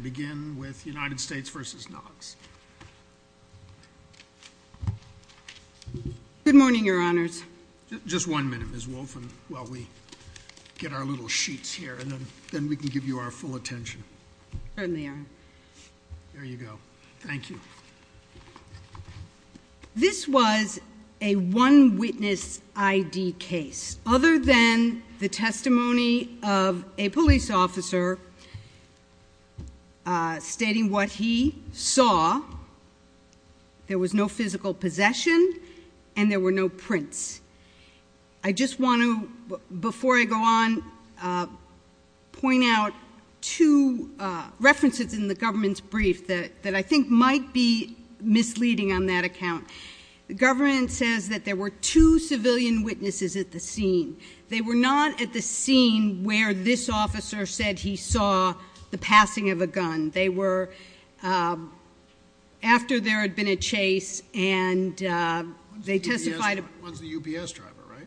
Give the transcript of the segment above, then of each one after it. Good morning, your honors. Just one minute, Ms. Wolfe, while we get our little sheets here, and then we can give you our full attention. There you go. Thank you. This was a one witness I.D. case. Other than the testimony of a police officer stating what he saw, there was no physical possession and there were no prints. I just want to, before I go on, point out two references in the government's brief that I think might be misleading on that account. The government says that there were two civilian witnesses at the scene. They were not at the scene where this officer said he saw the passing of a gun. They were after there had been a chase, and they testified. One's the UBS driver, right?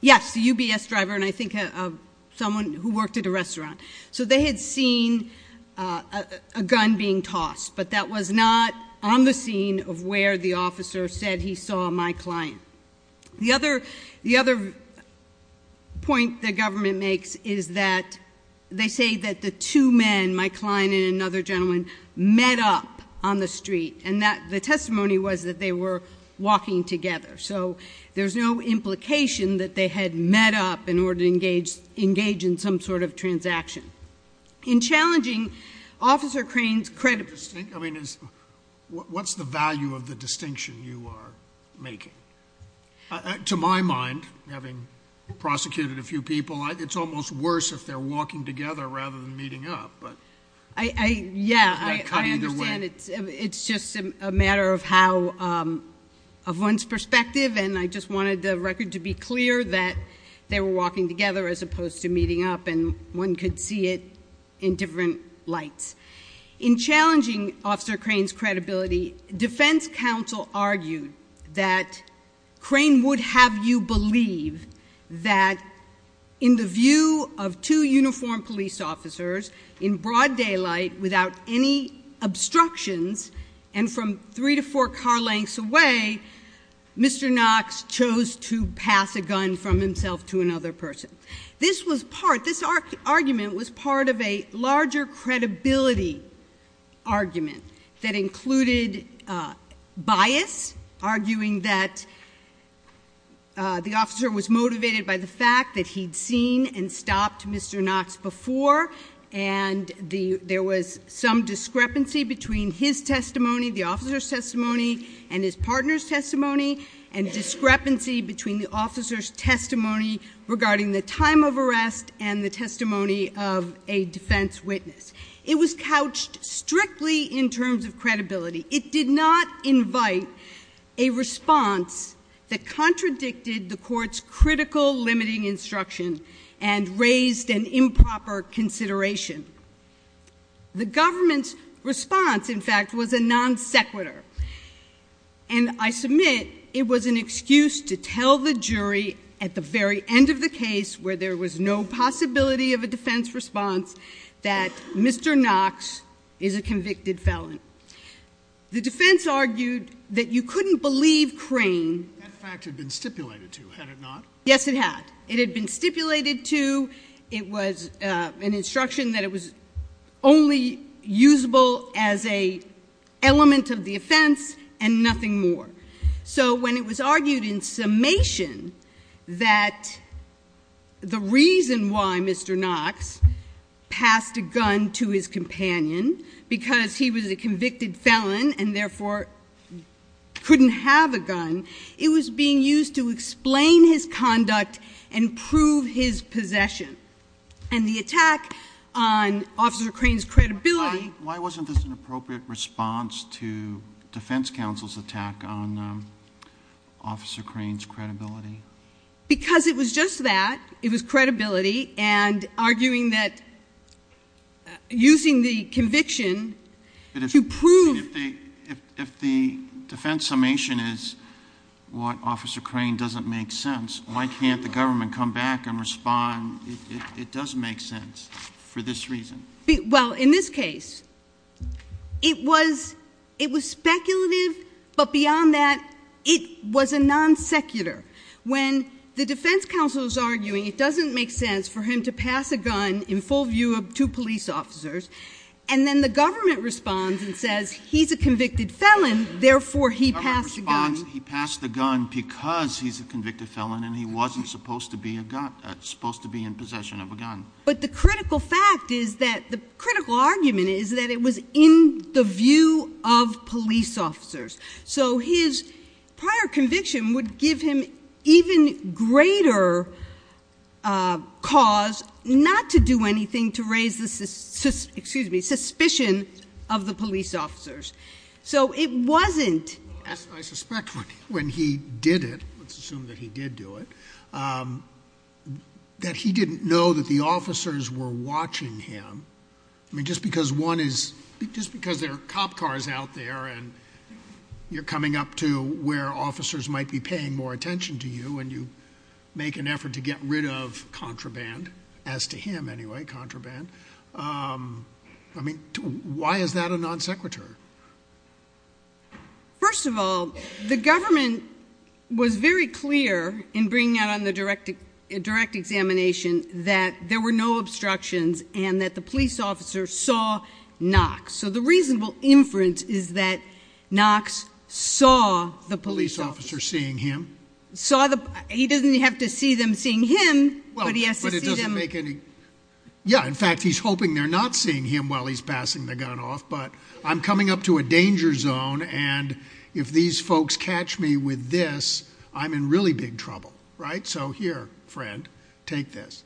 Yes, the UBS driver, and I think someone who worked at a restaurant. So they had seen a gun being tossed, but that was not on the scene of where the officer said he saw my client. The other point the government makes is that they say that the two men, my client and another gentleman, met up on the street, and the testimony was that they were walking together. So there's no implication that they had met up in order to engage in some sort of transaction. In challenging Officer Crane's credibility. I mean, what's the value of the distinction you are making? To my mind, having prosecuted a few people, it's almost worse if they're walking together rather than meeting up. Yeah, I understand. It's just a matter of one's perspective, and I just wanted the record to be clear that they were walking together as opposed to meeting up, and one could see it in different lights. In challenging Officer Crane's credibility, defense counsel argued that Crane would have you believe that, in the view of two uniformed police officers in broad daylight without any obstructions, and from three to four car lengths away, Mr. Knox chose to pass a gun from himself to another person. This argument was part of a larger credibility argument that included bias, arguing that the officer was motivated by the fact that he'd seen and stopped Mr. Knox before, and there was some discrepancy between his testimony, the officer's testimony, and his partner's testimony, and discrepancy between the officer's testimony regarding the time of arrest and the testimony of a defense witness. It was couched strictly in terms of credibility. It did not invite a response that contradicted the court's critical limiting instruction and raised an improper consideration. The government's response, in fact, was a non sequitur, and I submit it was an excuse to tell the jury at the very end of the case where there was no possibility of a defense response that Mr. Knox is a convicted felon. The defense argued that you couldn't believe Crane. That fact had been stipulated to, had it not? Yes, it had. It had been stipulated to. It was an instruction that it was only usable as an element of the offense and nothing more. So when it was argued in summation that the reason why Mr. Knox passed a gun to his companion, because he was a convicted felon and therefore couldn't have a gun, it was being used to explain his conduct and prove his possession. And the attack on Officer Crane's credibility. Why wasn't this an appropriate response to defense counsel's attack on Officer Crane's credibility? Because it was just that. It was credibility and arguing that using the conviction to prove. If the defense summation is what Officer Crane doesn't make sense, why can't the government come back and respond it doesn't make sense for this reason? Well, in this case, it was speculative, but beyond that, it was a non sequitur. When the defense counsel is arguing it doesn't make sense for him to pass a gun in full view of two police officers, and then the government responds and says he's a convicted felon, therefore he passed the gun. He passed the gun because he's a convicted felon and he wasn't supposed to be in possession of a gun. But the critical fact is that the critical argument is that it was in the view of police officers. So his prior conviction would give him even greater cause not to do anything to raise the suspicion of the police officers. So it wasn't. I suspect when he did it, let's assume that he did do it, that he didn't know that the officers were watching him. I mean, just because there are cop cars out there and you're coming up to where officers might be paying more attention to you and you make an effort to get rid of contraband, as to him anyway, contraband, I mean, why is that a non sequitur? First of all, the government was very clear in bringing out on the direct examination that there were no obstructions and that the police officer saw Knox. So the reasonable inference is that Knox saw the police officer seeing him. He doesn't have to see them seeing him, but he has to see them... Yeah, in fact, he's hoping they're not seeing him while he's passing the gun off, but I'm coming up to a danger zone and if these folks catch me with this, I'm in really big trouble. So here, friend, take this.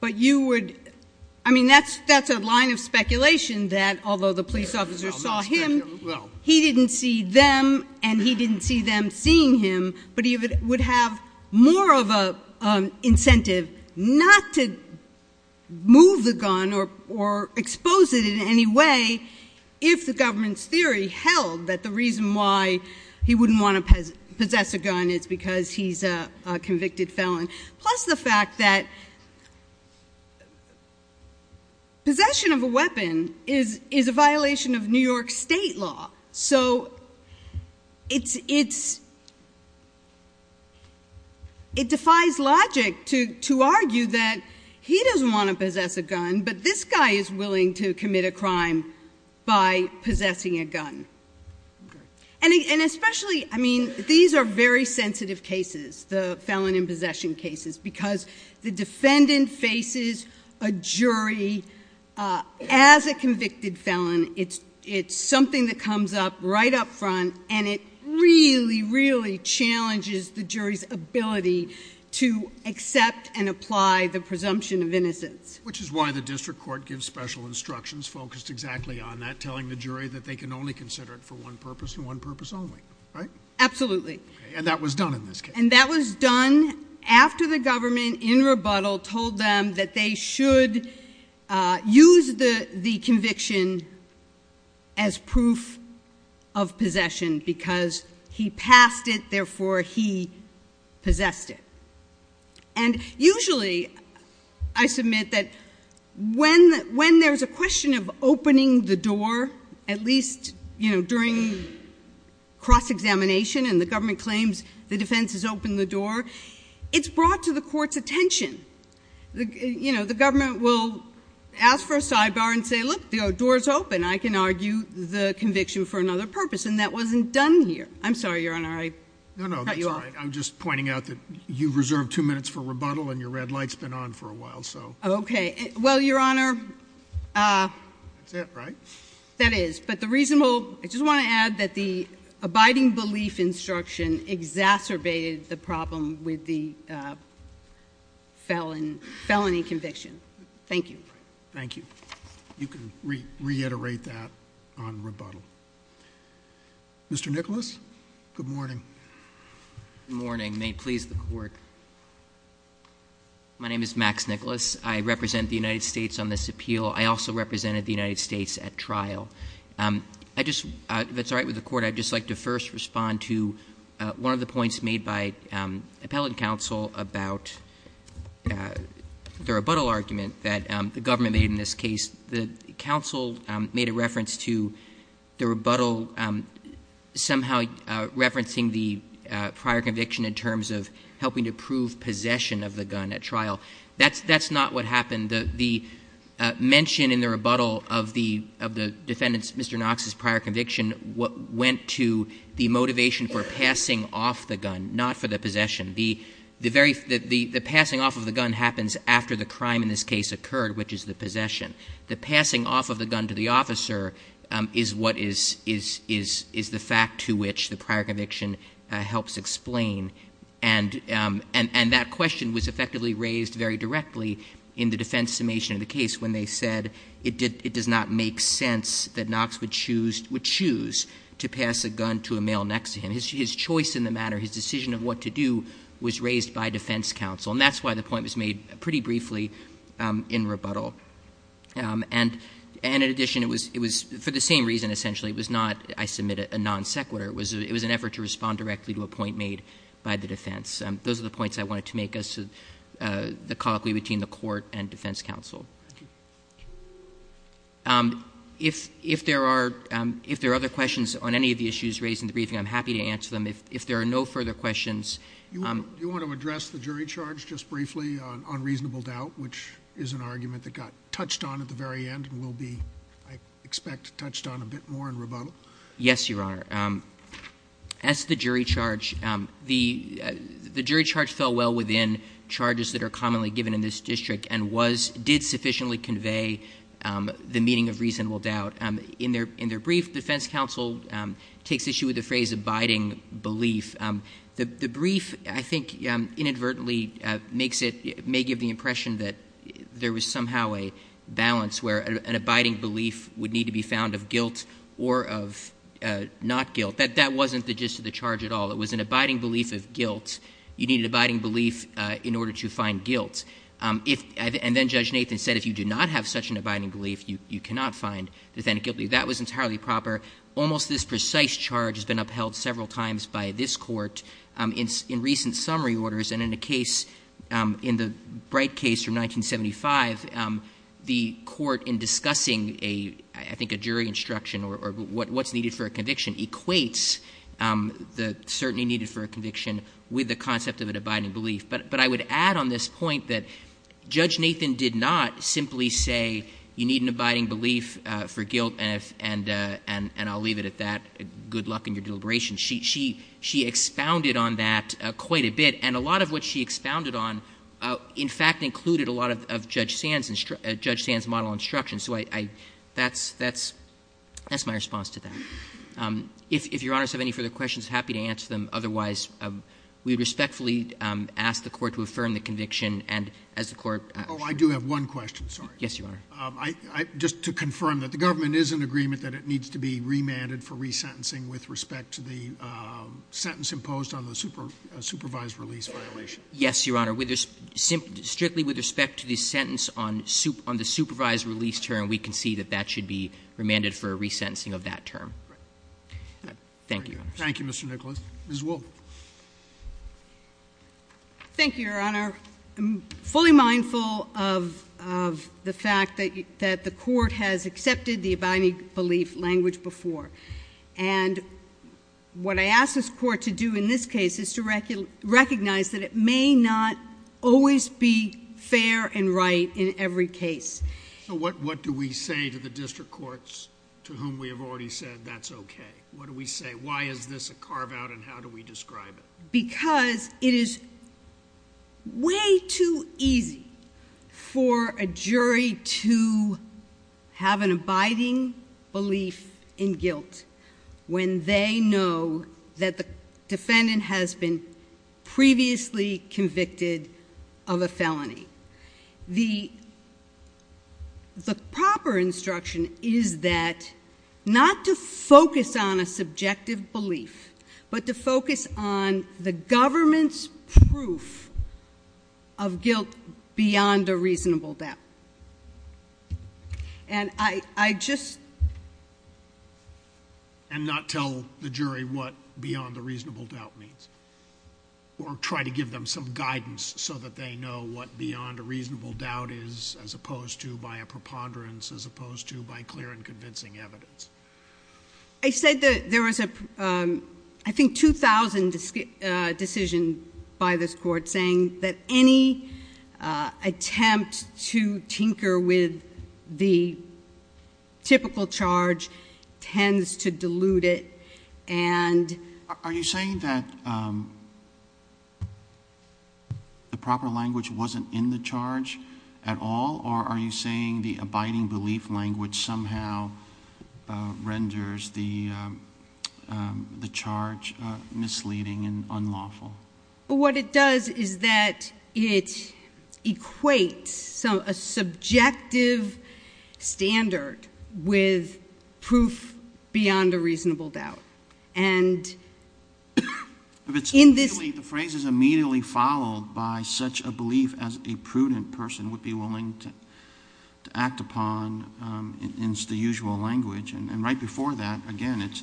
But you would, I mean, that's a line of speculation that although the police officer saw him, he didn't see them and he didn't see them seeing him, but he would have more of an incentive not to move the gun or expose it in any way if the government's theory held that the reason why he wouldn't want to possess a gun is because he's a convicted felon, plus the fact that possession of a weapon is a violation of New York state law. So it defies logic to argue that he doesn't want to possess a gun, but this guy is willing to commit a crime by possessing a gun. And especially, I mean, these are very sensitive cases, the felon in possession cases, because the defendant faces a jury as a convicted felon. It's something that comes up right up front and it really, really challenges the jury's ability to accept and apply the presumption of innocence. Which is why the district court gives special instructions focused exactly on that, in a way that they can only consider it for one purpose and one purpose only, right? Absolutely. And that was done in this case. And that was done after the government in rebuttal told them that they should use the conviction as proof of possession because he passed it, therefore he possessed it. And usually, I submit that when there's a question of opening the door, at least during cross-examination and the government claims the defense has opened the door, it's brought to the court's attention. The government will ask for a sidebar and say, look, the door's open. I can argue the conviction for another purpose. And that wasn't done here. I'm sorry, Your Honor, I caught you off. No, no, that's all right. I'm just pointing out that you've reserved two minutes for rebuttal and your red light's been on for a while, so. Okay. Well, Your Honor. That's it, right? That is. But the reasonable ‑‑ I just want to add that the abiding belief instruction exacerbated the problem with the felony conviction. Thank you. Thank you. You can reiterate that on rebuttal. Mr. Nicholas, good morning. Good morning. May it please the Court. My name is Max Nicholas. I represent the United States on this appeal. I also represented the United States at trial. If it's all right with the Court, I'd just like to first respond to one of the points made by appellate counsel about the rebuttal argument that the government made in this case. The counsel made a reference to the rebuttal somehow referencing the prior conviction in terms of helping to prove possession of the gun at trial. That's not what happened. The mention in the rebuttal of the defendant's, Mr. Knox's, prior conviction went to the motivation for passing off the gun, not for the possession. The passing off of the gun happens after the crime in this case occurred, which is the possession. The passing off of the gun to the officer is the fact to which the prior conviction helps explain, and that question was effectively raised very directly in the defense summation of the case when they said it does not make sense that Knox would choose to pass a gun to a male next to him. His choice in the matter, his decision of what to do, was raised by defense counsel, and that's why the point was made pretty briefly in rebuttal. And in addition, it was for the same reason, essentially. It was not, I submit it, a non sequitur. It was an effort to respond directly to a point made by the defense. Those are the points I wanted to make as to the colloquy between the court and defense counsel. Thank you. If there are other questions on any of the issues raised in the briefing, I'm happy to answer them. If there are no further questions. Do you want to address the jury charge just briefly on reasonable doubt, which is an argument that got touched on at the very end and will be, I expect, touched on a bit more in rebuttal? Yes, Your Honor. As to the jury charge, the jury charge fell well within charges that are commonly given in this district and did sufficiently convey the meaning of reasonable doubt. In their brief, defense counsel takes issue with the phrase abiding belief. The brief, I think, inadvertently makes it, may give the impression that there was somehow a balance where an abiding belief would need to be found of guilt or of not guilt. That wasn't the gist of the charge at all. It was an abiding belief of guilt. You need an abiding belief in order to find guilt. And then Judge Nathan said if you do not have such an abiding belief, you cannot find defendant guilty. That was entirely proper. Almost this precise charge has been upheld several times by this court in recent summary orders. And in the case, in the Bright case from 1975, the court in discussing, I think, a jury instruction or what's needed for a conviction equates the certainty needed for a conviction with the concept of an abiding belief. But I would add on this point that Judge Nathan did not simply say you need an abiding belief for guilt and I'll leave it at that. Good luck in your deliberation. She expounded on that quite a bit. And a lot of what she expounded on, in fact, included a lot of Judge Sand's model instructions. So that's my response to that. If Your Honors have any further questions, happy to answer them. Otherwise, we would respectfully ask the court to affirm the conviction. Oh, I do have one question, sorry. Yes, Your Honor. Just to confirm that the government is in agreement that it needs to be remanded for resentencing with respect to the sentence imposed on the supervised release violation. Yes, Your Honor. Strictly with respect to the sentence on the supervised release term, we can see that that should be remanded for a resentencing of that term. Thank you, Your Honors. Thank you, Mr. Nicholas. Ms. Wolfe. Thank you, Your Honor. I'm fully mindful of the fact that the court has accepted the abiding belief language before. And what I ask this court to do in this case is to recognize that it may not always be fair and right in every case. So what do we say to the district courts to whom we have already said that's okay? What do we say? Why is this a carve-out and how do we describe it? Because it is way too easy for a jury to have an abiding belief in guilt when they know that the defendant has been previously convicted of a felony. The proper instruction is that not to focus on a subjective belief, but to focus on the government's proof of guilt beyond a reasonable doubt. And I just— And not tell the jury what beyond a reasonable doubt means or try to give them some guidance so that they know what beyond a reasonable doubt is as opposed to by a preponderance as opposed to by clear and convincing evidence. I said that there was a, I think, 2,000 decision by this court saying that any attempt to tinker with the typical charge tends to dilute it. Are you saying that the proper language wasn't in the charge at all or are you saying the abiding belief language somehow renders the charge misleading and unlawful? What it does is that it equates a subjective standard with proof beyond a reasonable doubt. And in this— The phrase is immediately followed by such a belief as a prudent person would be willing to act upon in the usual language. And right before that, again, it's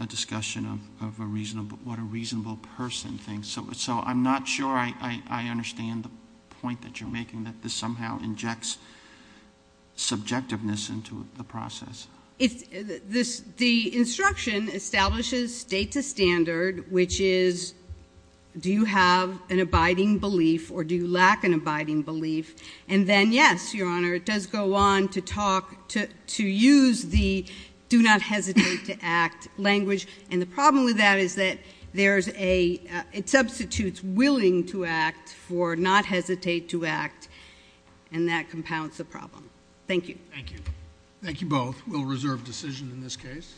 a discussion of what a reasonable person thinks. So I'm not sure I understand the point that you're making, that this somehow injects subjectiveness into the process. The instruction establishes state to standard, which is do you have an abiding belief or do you lack an abiding belief? And then, yes, Your Honor, it does go on to talk, to use the do not hesitate to act language. And the problem with that is that there's a—it substitutes willing to act for not hesitate to act, and that compounds the problem. Thank you. Thank you. Thank you both. We'll reserve decision in this case.